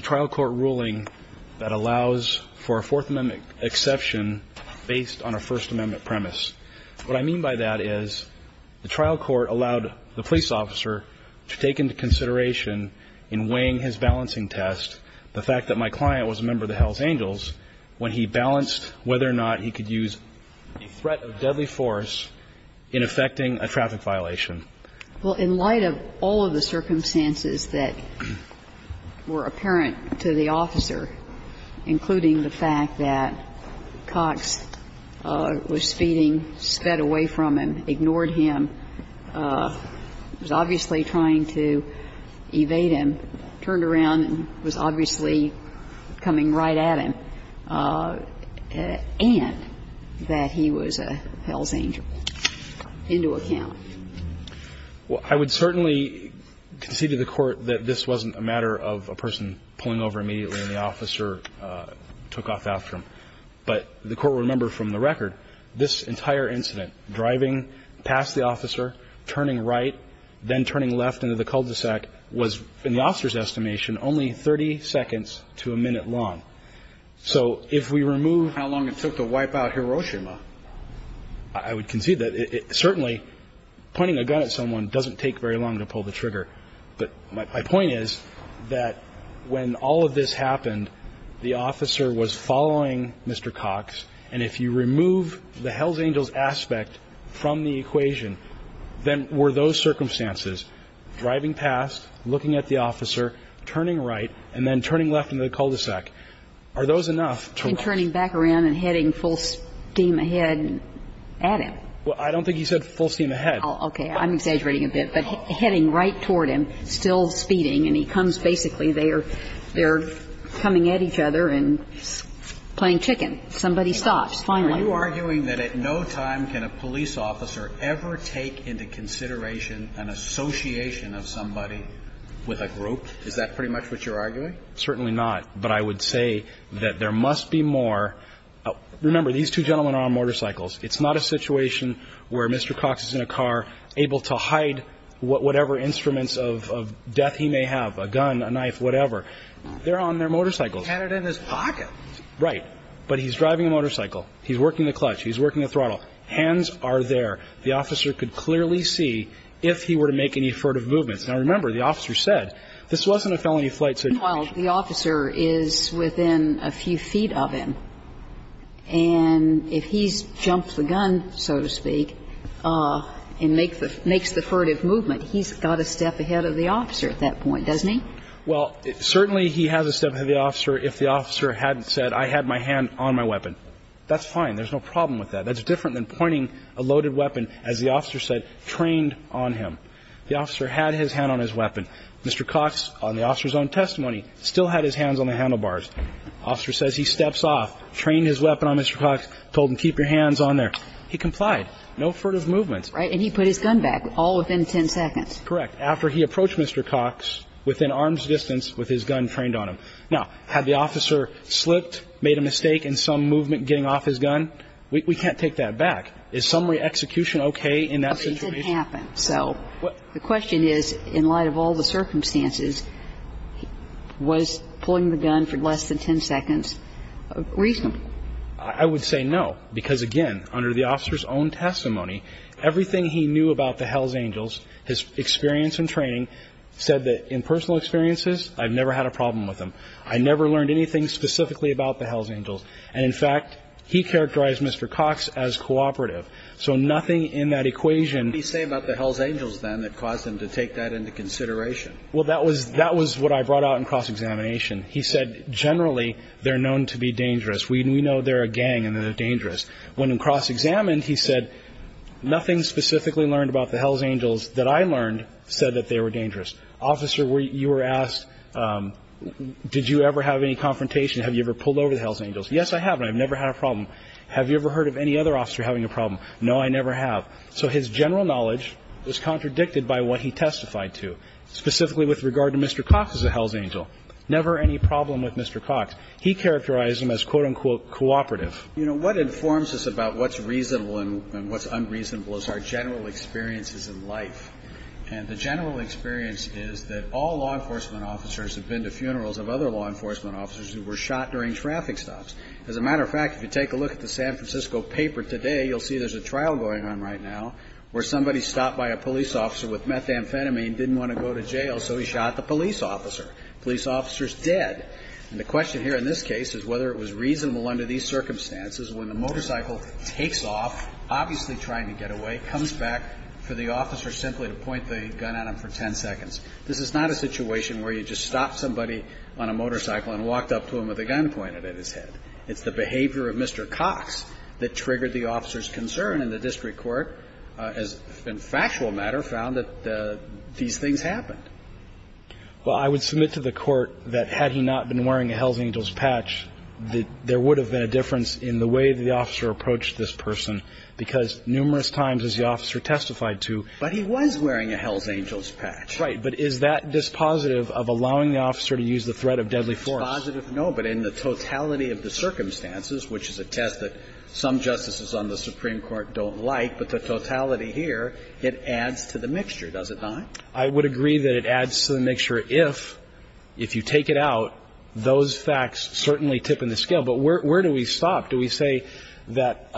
trial court ruling that allows for a Fourth Amendment exception based on a First Amendment premise. What I mean by that is the trial court allowed the police officer to take into consideration in weighing his balancing test the fact that my client was a member of the Los Angeles when he balanced whether or not he could use a threat of deadly force in effecting a traffic violation. Well, in light of all of the circumstances that were apparent to the officer, including the fact that Cox was speeding, sped away from him, ignored him, was obviously trying to evade him, turned around and was obviously coming right at him, and that he was a hell's angel, into account. Well, I would certainly concede to the Court that this wasn't a matter of a person pulling over immediately and the officer took off after him. But the Court will remember from the record, this entire incident, driving past the officer, turning right, then turning left into the cul-de-sac, was, in the officer's estimation, only 30 seconds to a minute long. So if we remove how long it took to wipe out Hiroshima, I would concede that certainly pointing a gun at someone doesn't take very long to pull the trigger. But my point is that when all of this happened, the officer was following Mr. Cox, and if you remove the hell's angels aspect from the equation, then were those circumstances, driving past, looking at the officer, turning right, and then turning left into the cul-de-sac, are those enough to ---- And turning back around and heading full steam ahead at him. Well, I don't think he said full steam ahead. Okay. I'm exaggerating a bit. But heading right toward him, still speeding, and he turned right and headed full steam ahead. Okay. So you're arguing that at no time can a police officer ever take into consideration an association of somebody with a group? Is that pretty much what you're arguing? Certainly not. But I would say that there must be more. Remember, these two gentlemen are on motorcycles. It's not a situation where Mr. Cox is in a car, able to hide whatever instruments of death he may have, a gun, a knife, whatever. They're on their motorcycles. He had it in his pocket. Right. But he's driving a motorcycle. He's working the clutch. He's working the throttle. Hands are there. The officer could clearly see if he were to make any furtive movements. Now, remember, the officer said this wasn't a felony flight situation. Well, the officer is within a few feet of him. And if he's jumped the gun, so to speak, and makes the furtive movement, he's got to step ahead of the officer at that point, doesn't he? Well, certainly he has to step ahead of the officer if the officer hadn't said, I had my hand on my weapon. That's fine. There's no problem with that. That's different than pointing a loaded weapon, as the officer said, trained on him. The officer had his hand on his weapon. Mr. Cox, on the officer's own testimony, still had his hands on the handlebars. Officer says he steps off, trained his weapon on Mr. Cox, told him keep your hands on there. He complied. No furtive movements. Right. And he put his gun back, all within 10 seconds. Correct. After he approached Mr. Cox within arm's distance with his gun trained on him. Now, had the officer slipped, made a mistake in some movement getting off his gun? We can't take that back. Is summary execution okay in that situation? It did happen. So the question is, in light of all the circumstances, was pulling the gun for less than 10 seconds reasonable? I would say no. Because, again, under the officer's own testimony, everything he knew about the Hells Angels, his experience and training, said that in personal experiences, I've never had a problem with them. I never learned anything specifically about the Hells Angels. And, in fact, he characterized Mr. Cox as cooperative. So nothing in that equation. What did he say about the Hells Angels, then, that caused him to take that into consideration? Well, that was what I brought out in cross-examination. He said, generally, they're known to be dangerous. We know they're a gang and they're dangerous. When cross-examined, he said, nothing specifically learned about the Hells Angels that I learned said that they were dangerous. Officer, you were asked, did you ever have any confrontation? Have you ever pulled over the Hells Angels? Yes, I have, and I've never had a problem. Have you ever heard of any other officer having a problem? No, I never have. So his general knowledge was contradicted by what he testified to, specifically with regard to Mr. Cox as a Hells Angel. Never any problem with Mr. Cox. He characterized him as, quote-unquote, cooperative. You know, what informs us about what's reasonable and what's unreasonable is our general experiences in life. And the general experience is that all law enforcement officers have been to funerals of other law enforcement officers who were shot during traffic stops. As a matter of fact, if you take a look at the San Francisco paper today, you'll see there's a trial going on right now where somebody stopped by a police officer with methamphetamine, didn't want to go to jail, so he shot the police officer. The police officer's dead. And the question here in this case is whether it was reasonable under these circumstances when the motorcycle takes off, obviously trying to get away, comes back for the officer simply to point the gun at him for 10 seconds. This is not a situation where you just stopped somebody on a motorcycle and walked up to him with a gun pointed at his head. It's the behavior of Mr. Cox that triggered the officer's concern in the district court, and factual matter found that these things happened. Well, I would submit to the Court that had he not been wearing a Hell's Angels patch, that there would have been a difference in the way that the officer approached this person, because numerous times, as the officer testified to. But he was wearing a Hell's Angels patch. Right. But is that dispositive of allowing the officer to use the threat of deadly force? It's dispositive, no. But in the totality of the circumstances, which is a test that some justices on the Supreme Court don't like, but the totality here, it adds to the mixture, does it not? I would agree that it adds to the mixture if, if you take it out, those facts certainly tip in the scale. But where do we stop? Do we say that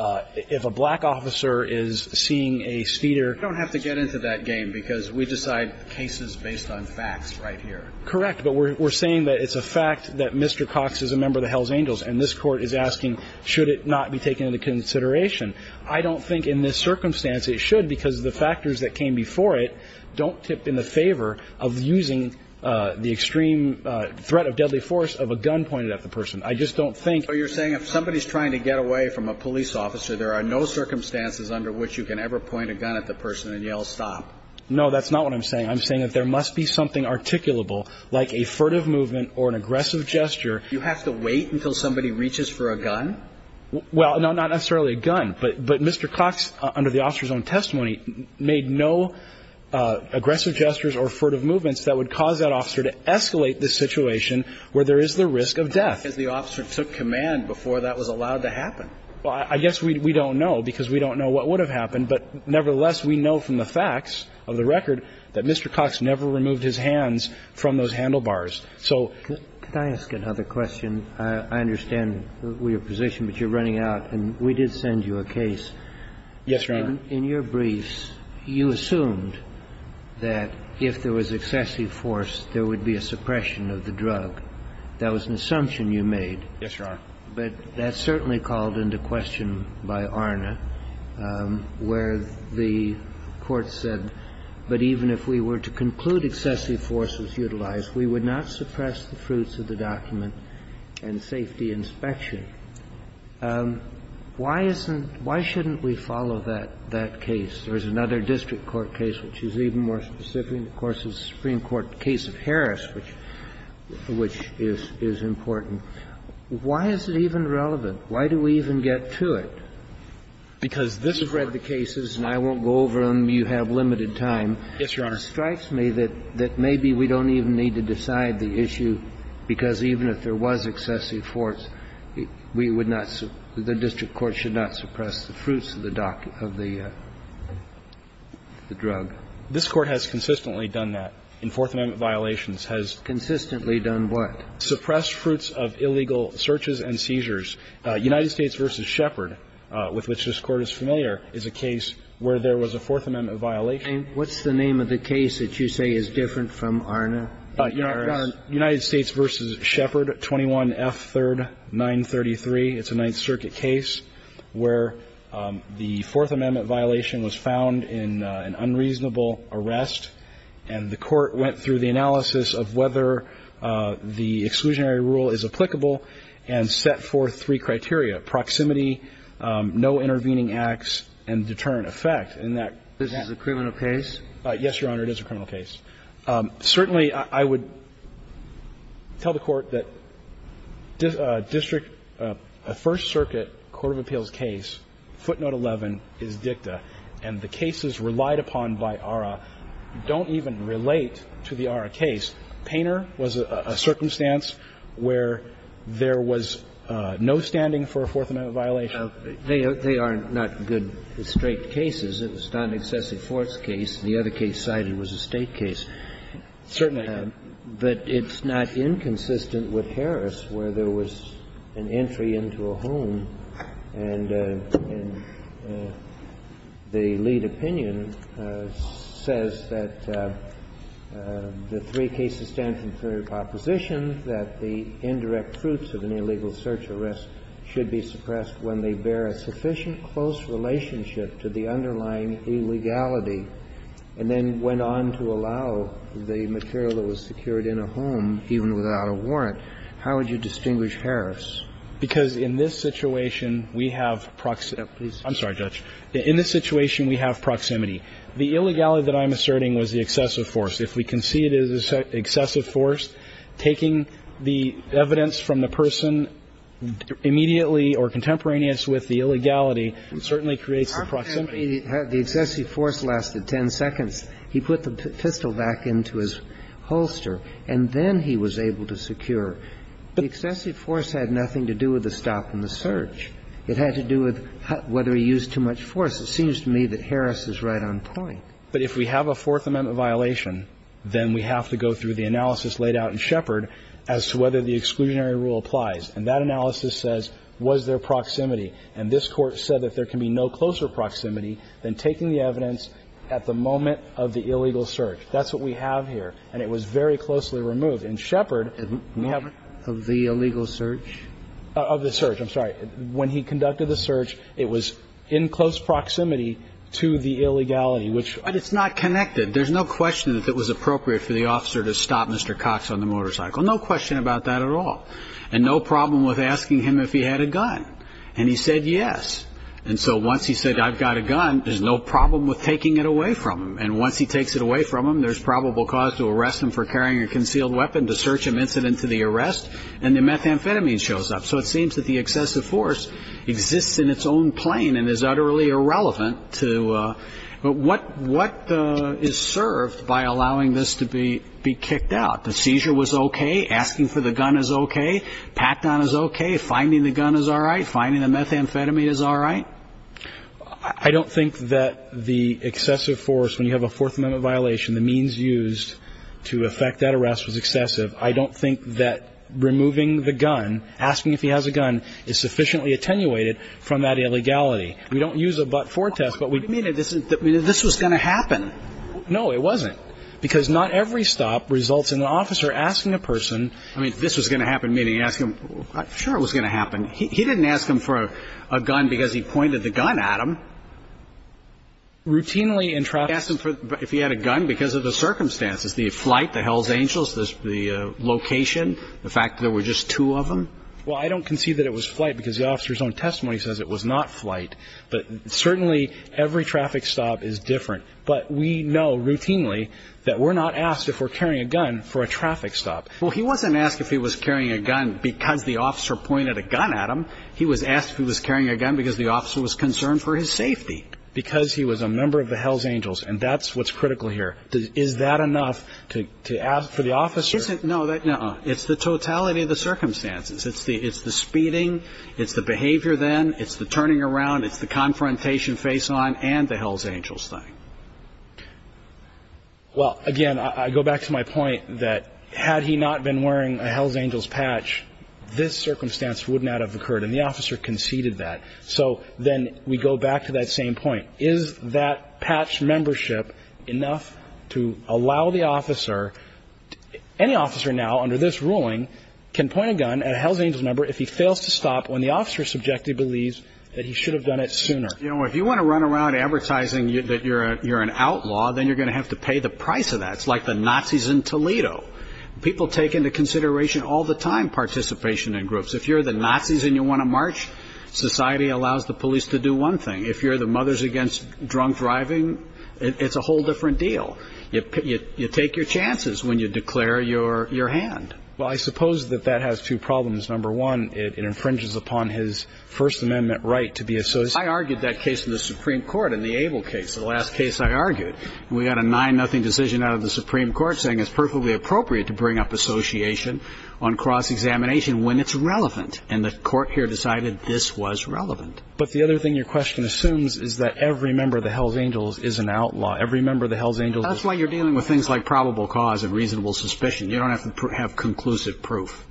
if a black officer is seeing a speeder? We don't have to get into that game, because we decide cases based on facts right here. Correct. But we're saying that it's a fact that Mr. Cox is a member of the Hell's Angels, and this court is asking, should it not be taken into consideration? I don't think in this circumstance it should, because the factors that came before it don't tip in the favor of using the extreme threat of deadly force of a gun pointed at the person. I just don't think. So you're saying if somebody's trying to get away from a police officer, there are no circumstances under which you can ever point a gun at the person and yell stop? No, that's not what I'm saying. I'm saying that there must be something articulable, like a furtive movement or an aggressive gesture. You have to wait until somebody reaches for a gun? Well, no, not necessarily a gun. But Mr. Cox, under the officer's own testimony, made no aggressive gestures or furtive movements that would cause that officer to escalate the situation where there is the risk of death. Because the officer took command before that was allowed to happen. Well, I guess we don't know, because we don't know what would have happened. But nevertheless, we know from the facts of the record that Mr. Cox never removed his hands from those handlebars. Could I ask another question? I understand your position, but you're running out. And we did send you a case. Yes, Your Honor. In your briefs, you assumed that if there was excessive force, there would be a suppression of the drug. That was an assumption you made. Yes, Your Honor. But that's certainly called into question by ARNA, where the court said, but even if we were to conclude excessive force was utilized, we would not suppress the fruits of the document and safety inspection. Why isn't – why shouldn't we follow that case? There's another district court case which is even more specific. Of course, it's the Supreme Court case of Harris, which is important. Why is it even relevant? Why do we even get to it? Because this Court has read the cases, and I won't go over them. You have limited time. Yes, Your Honor. It strikes me that maybe we don't even need to decide the issue, because even if there was excessive force, we would not – the district court should not suppress the fruits of the drug. This Court has consistently done that in Fourth Amendment violations. Has consistently done what? Suppressed fruits of illegal searches and seizures. United States v. Shepherd, with which this Court is familiar, is a case where there was a Fourth Amendment violation. What's the name of the case that you say is different from Arna and Harris? United States v. Shepherd, 21F3rd 933. It's a Ninth Circuit case where the Fourth Amendment violation was found in an unreasonable arrest, and the Court went through the analysis of whether the exclusionary rule is applicable and set forth three criteria, proximity, no intervening acts, and deterrent effect, in that case. This is a criminal case? Yes, Your Honor. It is a criminal case. Certainly, I would tell the Court that district – a First Circuit court of appeals case, footnote 11, is dicta, and the cases relied upon by ARRA don't even relate to the ARRA case. Painter was a circumstance where there was no standing for a Fourth Amendment violation. They are not good straight cases. It was not an excessive force case. The other case cited was a State case. Certainly. But it's not inconsistent with Harris, where there was an entry into a home and the lead opinion says that the three cases stand for opposition, that the indirect fruits of an illegal search arrest should be suppressed when they bear a sufficient close relationship to the underlying illegality, and then went on to allow the material that was secured in a home, even without a warrant. How would you distinguish Harris? Because in this situation, we have proximity. I'm sorry, Judge. In this situation, we have proximity. The illegality that I'm asserting was the excessive force. If we concede it is excessive force, taking the evidence from the person immediately or contemporaneous with the illegality certainly creates the proximity. The excessive force lasted 10 seconds. He put the pistol back into his holster, and then he was able to secure. The excessive force had nothing to do with the stop and the search. It had to do with whether he used too much force. It seems to me that Harris is right on point. But if we have a Fourth Amendment violation, then we have to go through the analysis laid out in Shepard as to whether the exclusionary rule applies. And that analysis says, was there proximity? And this Court said that there can be no closer proximity than taking the evidence at the moment of the illegal search. That's what we have here. And it was very closely removed. In Shepard, we have the illegal search. Of the search. I'm sorry. When he conducted the search, it was in close proximity to the illegality. But it's not connected. There's no question that it was appropriate for the officer to stop Mr. Cox on the motorcycle. No question about that at all. And no problem with asking him if he had a gun. And he said yes. And so once he said, I've got a gun, there's no problem with taking it away from him. And once he takes it away from him, there's probable cause to arrest him for carrying a concealed weapon, to search him incident to the arrest, and the methamphetamine shows up. So it seems that the excessive force exists in its own plane and is utterly irrelevant to what is served by allowing this to be kicked out. The seizure was okay. Asking for the gun is okay. Pacton is okay. Finding the gun is all right. Finding the methamphetamine is all right. I don't think that the excessive force, when you have a Fourth Amendment violation, the means used to effect that arrest was excessive. I don't think that removing the gun, asking if he has a gun, is sufficiently attenuated from that illegality. We don't use a but-for test, but we do. You didn't mean that this was going to happen. No, it wasn't. Because not every stop results in an officer asking a person. I mean, this was going to happen, meaning ask him. Sure it was going to happen. He didn't ask him for a gun because he pointed the gun at him. Routinely in traffic. Asked him if he had a gun because of the circumstances, the flight, the Hells Angels, the location, the fact that there were just two of them. Well, I don't concede that it was flight because the officer's own testimony says it was not flight. But certainly every traffic stop is different. But we know routinely that we're not asked if we're carrying a gun for a traffic stop. Well, he wasn't asked if he was carrying a gun because the officer pointed a gun at him. He was asked if he was carrying a gun because the officer was concerned for his safety. Because he was a member of the Hells Angels. And that's what's critical here. Is that enough to ask for the officer? No. It's the totality of the circumstances. It's the speeding. It's the behavior then. It's the turning around. It's the confrontation face-on and the Hells Angels thing. Well, again, I go back to my point that had he not been wearing a Hells Angels patch, this circumstance would not have occurred, and the officer conceded that. So then we go back to that same point. Is that patch membership enough to allow the officer? Any officer now under this ruling can point a gun at a Hells Angels member if he fails to stop when the officer subjectively believes that he should have done it sooner. You know, if you want to run around advertising that you're an outlaw, then you're going to have to pay the price of that. It's like the Nazis in Toledo. People take into consideration all the time participation in groups. If you're the Nazis and you want to march, society allows the police to do one thing. If you're the mothers against drunk driving, it's a whole different deal. You take your chances when you declare your hand. Well, I suppose that that has two problems. Number one, it infringes upon his First Amendment right to be associated. I argued that case in the Supreme Court in the Abel case, the last case I argued. We got a 9-0 decision out of the Supreme Court saying it's perfectly appropriate to bring up association on cross-examination when it's relevant, and the court here decided this was relevant. But the other thing your question assumes is that every member of the Hells Angels is an outlaw. Every member of the Hells Angels is an outlaw. That's why you're dealing with things like probable cause and reasonable suspicion. You don't have to have conclusive proof.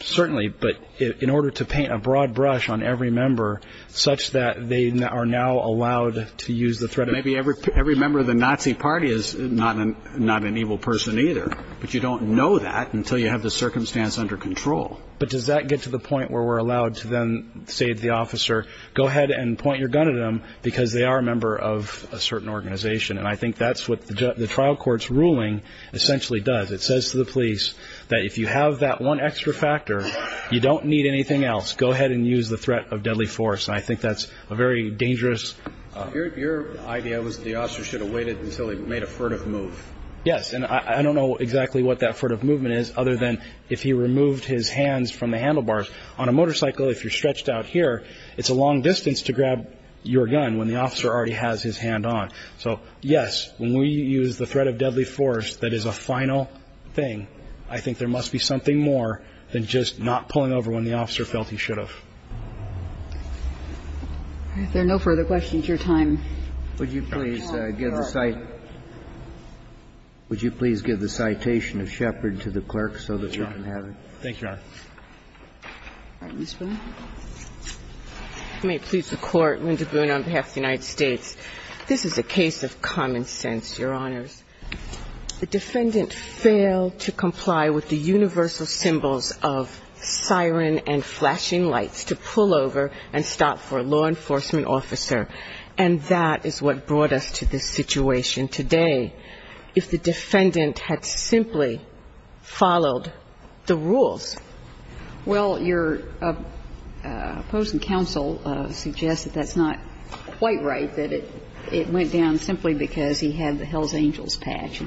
Certainly, but in order to paint a broad brush on every member such that they are now allowed to use the threat of Every member of the Nazi party is not an evil person either, but you don't know that until you have the circumstance under control. But does that get to the point where we're allowed to then say to the officer, go ahead and point your gun at them because they are a member of a certain organization? And I think that's what the trial court's ruling essentially does. It says to the police that if you have that one extra factor, you don't need anything else. Go ahead and use the threat of deadly force, and I think that's a very dangerous. Your idea was the officer should have waited until he made a furtive move. Yes, and I don't know exactly what that furtive movement is other than if he removed his hands from the handlebars. On a motorcycle, if you're stretched out here, it's a long distance to grab your gun when the officer already has his hand on. So, yes, when we use the threat of deadly force, that is a final thing. I think there must be something more than just not pulling over when the officer felt he should have. If there are no further questions, your time is up. Would you please give the citation of Shepard to the clerk so that we can have it? Thank you, Your Honor. All right. Ms. Boone. If you may please, Your Honor. Linda Boone on behalf of the United States. This is a case of common sense, Your Honors. The defendant failed to comply with the universal symbols of siren and flashing lights to pull over and stop for a law enforcement officer, and that is what brought us to this situation today. If the defendant had simply followed the rules. Well, your opposing counsel suggests that that's not quite right, that it went down simply because he had the Hell's Angels patch.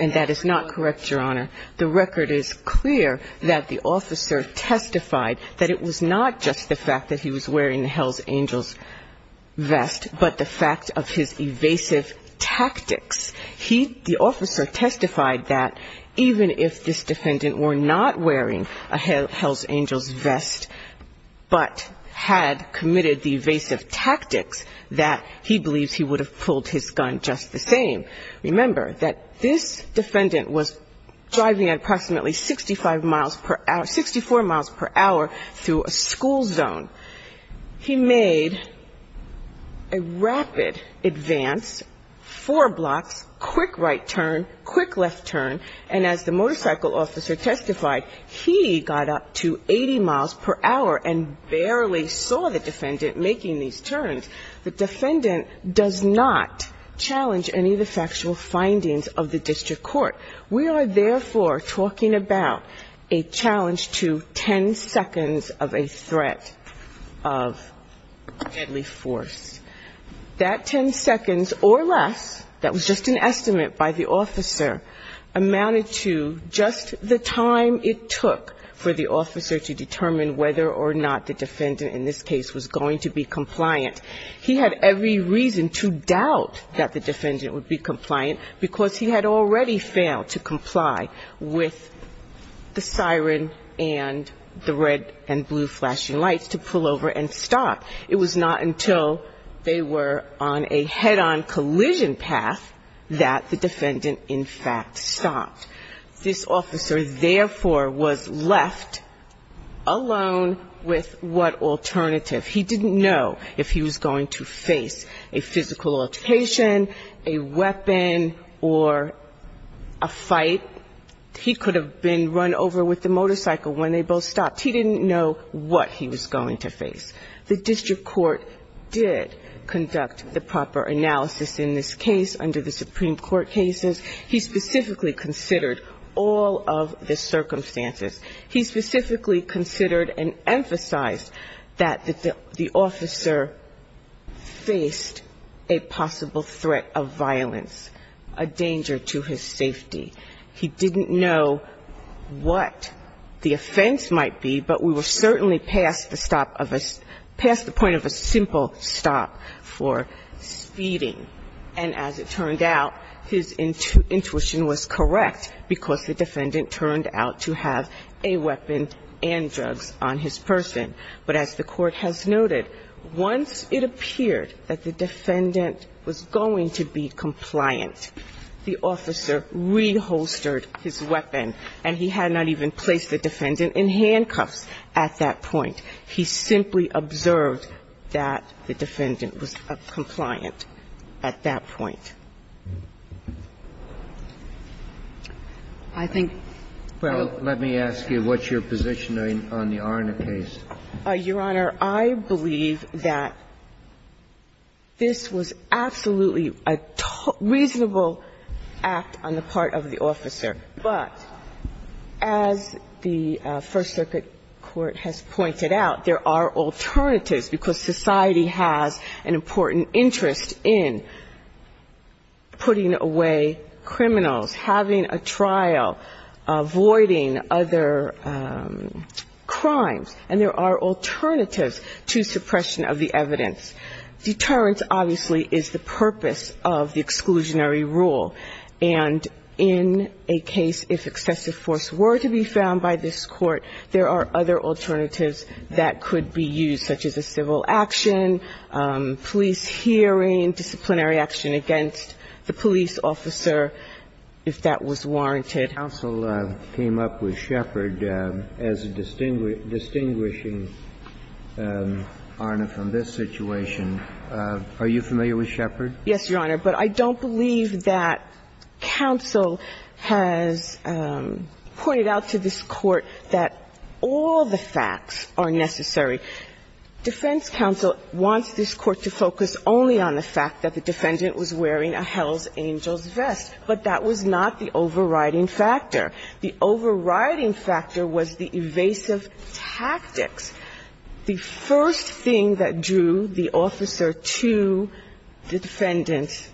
And that is not correct, Your Honor. The record is clear that the officer testified that it was not just the fact that he was wearing the Hell's Angels vest, but the fact of his evasive tactics. The officer testified that even if this defendant were not wearing a Hell's Angels vest but had committed the evasive tactics, that he believes he would have pulled his gun just the same. Remember that this defendant was driving at approximately 65 miles per hour, 64 miles per hour through a school zone. He made a rapid advance, four blocks, quick right turn, quick left turn, and as the motorcycle officer testified, he got up to 80 miles per hour and barely saw the defendant making these turns. The defendant does not challenge any of the factual findings of the district court. We are, therefore, talking about a challenge to 10 seconds of a threat of deadly force. That 10 seconds or less, that was just an estimate by the officer, amounted to just the time it took for the officer to determine whether or not the defendant in this case was going to be compliant. He had every reason to doubt that the defendant would be compliant, because he had already failed to comply with the siren and the red and blue flashing lights to pull over and stop. It was not until they were on a head-on collision path that the defendant in fact stopped. This officer, therefore, was left alone with what alternative. He didn't know if he was going to face a physical altercation, a weapon, or a fight. He could have been run over with the motorcycle when they both stopped. He didn't know what he was going to face. The district court did conduct the proper analysis in this case under the Supreme Court cases. He specifically considered all of the circumstances. He specifically considered and emphasized that the officer faced a possible threat of violence, a danger to his safety. He didn't know what the offense might be, but we were certainly past the stop of a – past the point of a simple stop for speeding. And as it turned out, his intuition was correct because the defendant turned out to have a weapon and drugs on his person. But as the Court has noted, once it appeared that the defendant was going to be compliant, the officer reholstered his weapon and he had not even placed the defendant in handcuffs at that point. He simply observed that the defendant was compliant at that point. I think – Well, let me ask you, what's your position on the Arner case? Your Honor, I believe that this was absolutely a reasonable act on the part of the officer. But as the First Circuit Court has pointed out, there are alternatives because society has an important interest in putting away criminals, having a trial, avoiding other crimes, and there are alternatives to suppression of the evidence. Deterrence, obviously, is the purpose of the exclusionary rule. And in a case if excessive force were to be found by this Court, there are other alternatives that could be used, such as a civil action, police hearing, disciplinary action against the police officer, if that was warranted. Counsel came up with Shepard as a distinguishing Arner from this situation. Are you familiar with Shepard? Yes, Your Honor. But I don't believe that counsel has pointed out to this Court that all the facts are necessary. Defense counsel wants this Court to focus only on the fact that the defendant was wearing a Hell's Angels vest. But that was not the overriding factor. The overriding factor was the evasive tactics. The first thing that drew the officer to the defendant.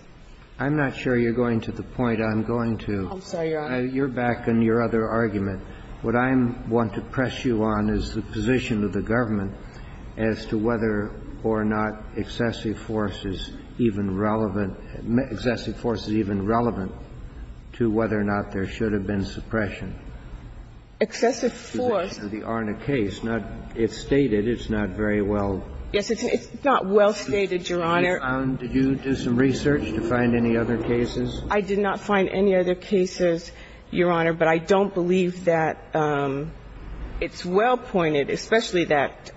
I'm not sure you're going to the point I'm going to. I'm sorry, Your Honor. You're back on your other argument. What I want to press you on is the position of the government as to whether or not excessive force is even relevant to whether or not there should have been suppression. Excessive force. I'm not sure that you can go into the details of the Arner case. It's stated it's not very well. Yes. It's not well stated, Your Honor. Did you do some research to find any other cases? I did not find any other cases, Your Honor, but I don't believe that it's well pointed, especially that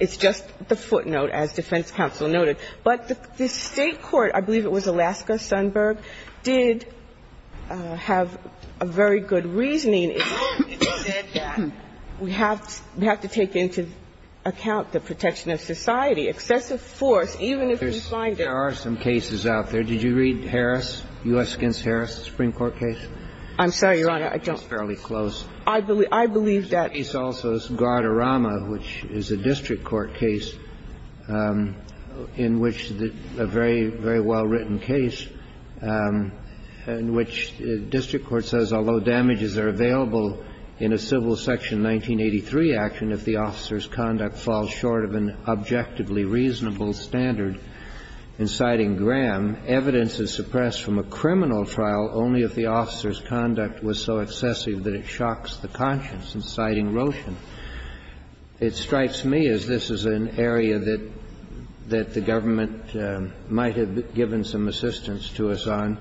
it's just the footnote, as defense counsel noted. But the State court, I believe it was Alaska, Sundberg, did have a very good reasoning. It said that we have to take into account the protection of society. Excessive force, even if we find it. There are some cases out there. Did you read Harris, U.S. against Harris, the Supreme Court case? I'm sorry, Your Honor, I don't. It's fairly close. I believe that. The case also is Guadarrama, which is a district court case in which a very, very well-written case in which district court says, although damages are available in a civil section 1983 action if the officer's conduct falls short of an objectively reasonable standard in citing Graham, evidence is suppressed from a criminal trial only if the officer's conduct was so excessive that it shocks the conscience in citing Roshan. It strikes me as this is an area that the government might have given some assistance to us on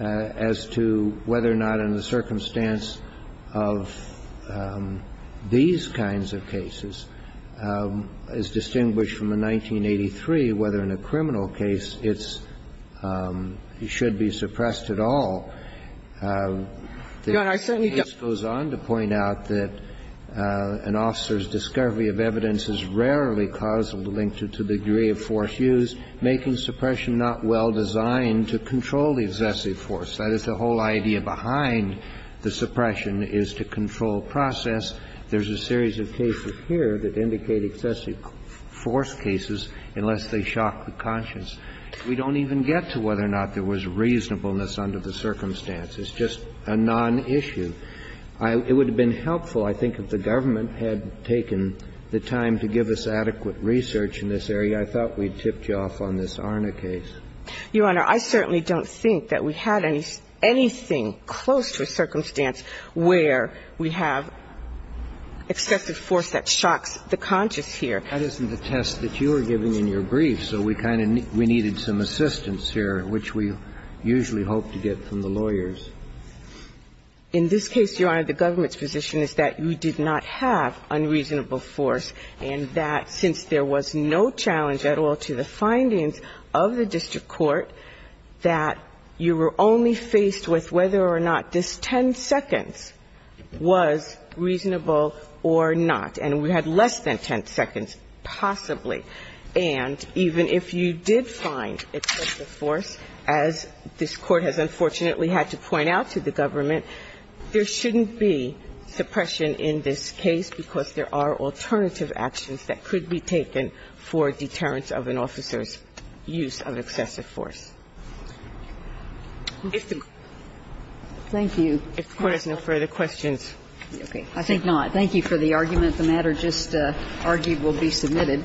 as to whether or not in the circumstance of these kinds of cases, as distinguished from the 1983, whether in a criminal case it's should be suppressed at all. The case goes on to point out that an officer's discovery of evidence is rarely causally linked to the degree of force used, making suppression not well designed to control the excessive force. That is, the whole idea behind the suppression is to control process. There's a series of cases here that indicate excessive force cases unless they shock the conscience. We don't even get to whether or not there was reasonableness under the circumstances. It's just a non-issue. It would have been helpful, I think, if the government had taken the time to give us adequate research in this area. I thought we'd tipped you off on this Arna case. Your Honor, I certainly don't think that we had anything close to a circumstance where we have excessive force that shocks the conscience here. That isn't the test that you were giving in your brief, so we kind of needed some assistance here, which we usually hope to get from the lawyers. In this case, Your Honor, the government's position is that you did not have unreasonable force and that since there was no challenge at all to the findings of the district court, that you were only faced with whether or not this 10 seconds was reasonable or not, and we had less than 10 seconds possibly. And even if you did find excessive force, as this Court has unfortunately had to point out to the government, there shouldn't be suppression in this case because there are alternative actions that could be taken for deterrence of an officer's use of excessive force. If the Court has no further questions, I thank you for the argument. The matter just argued will be submitted.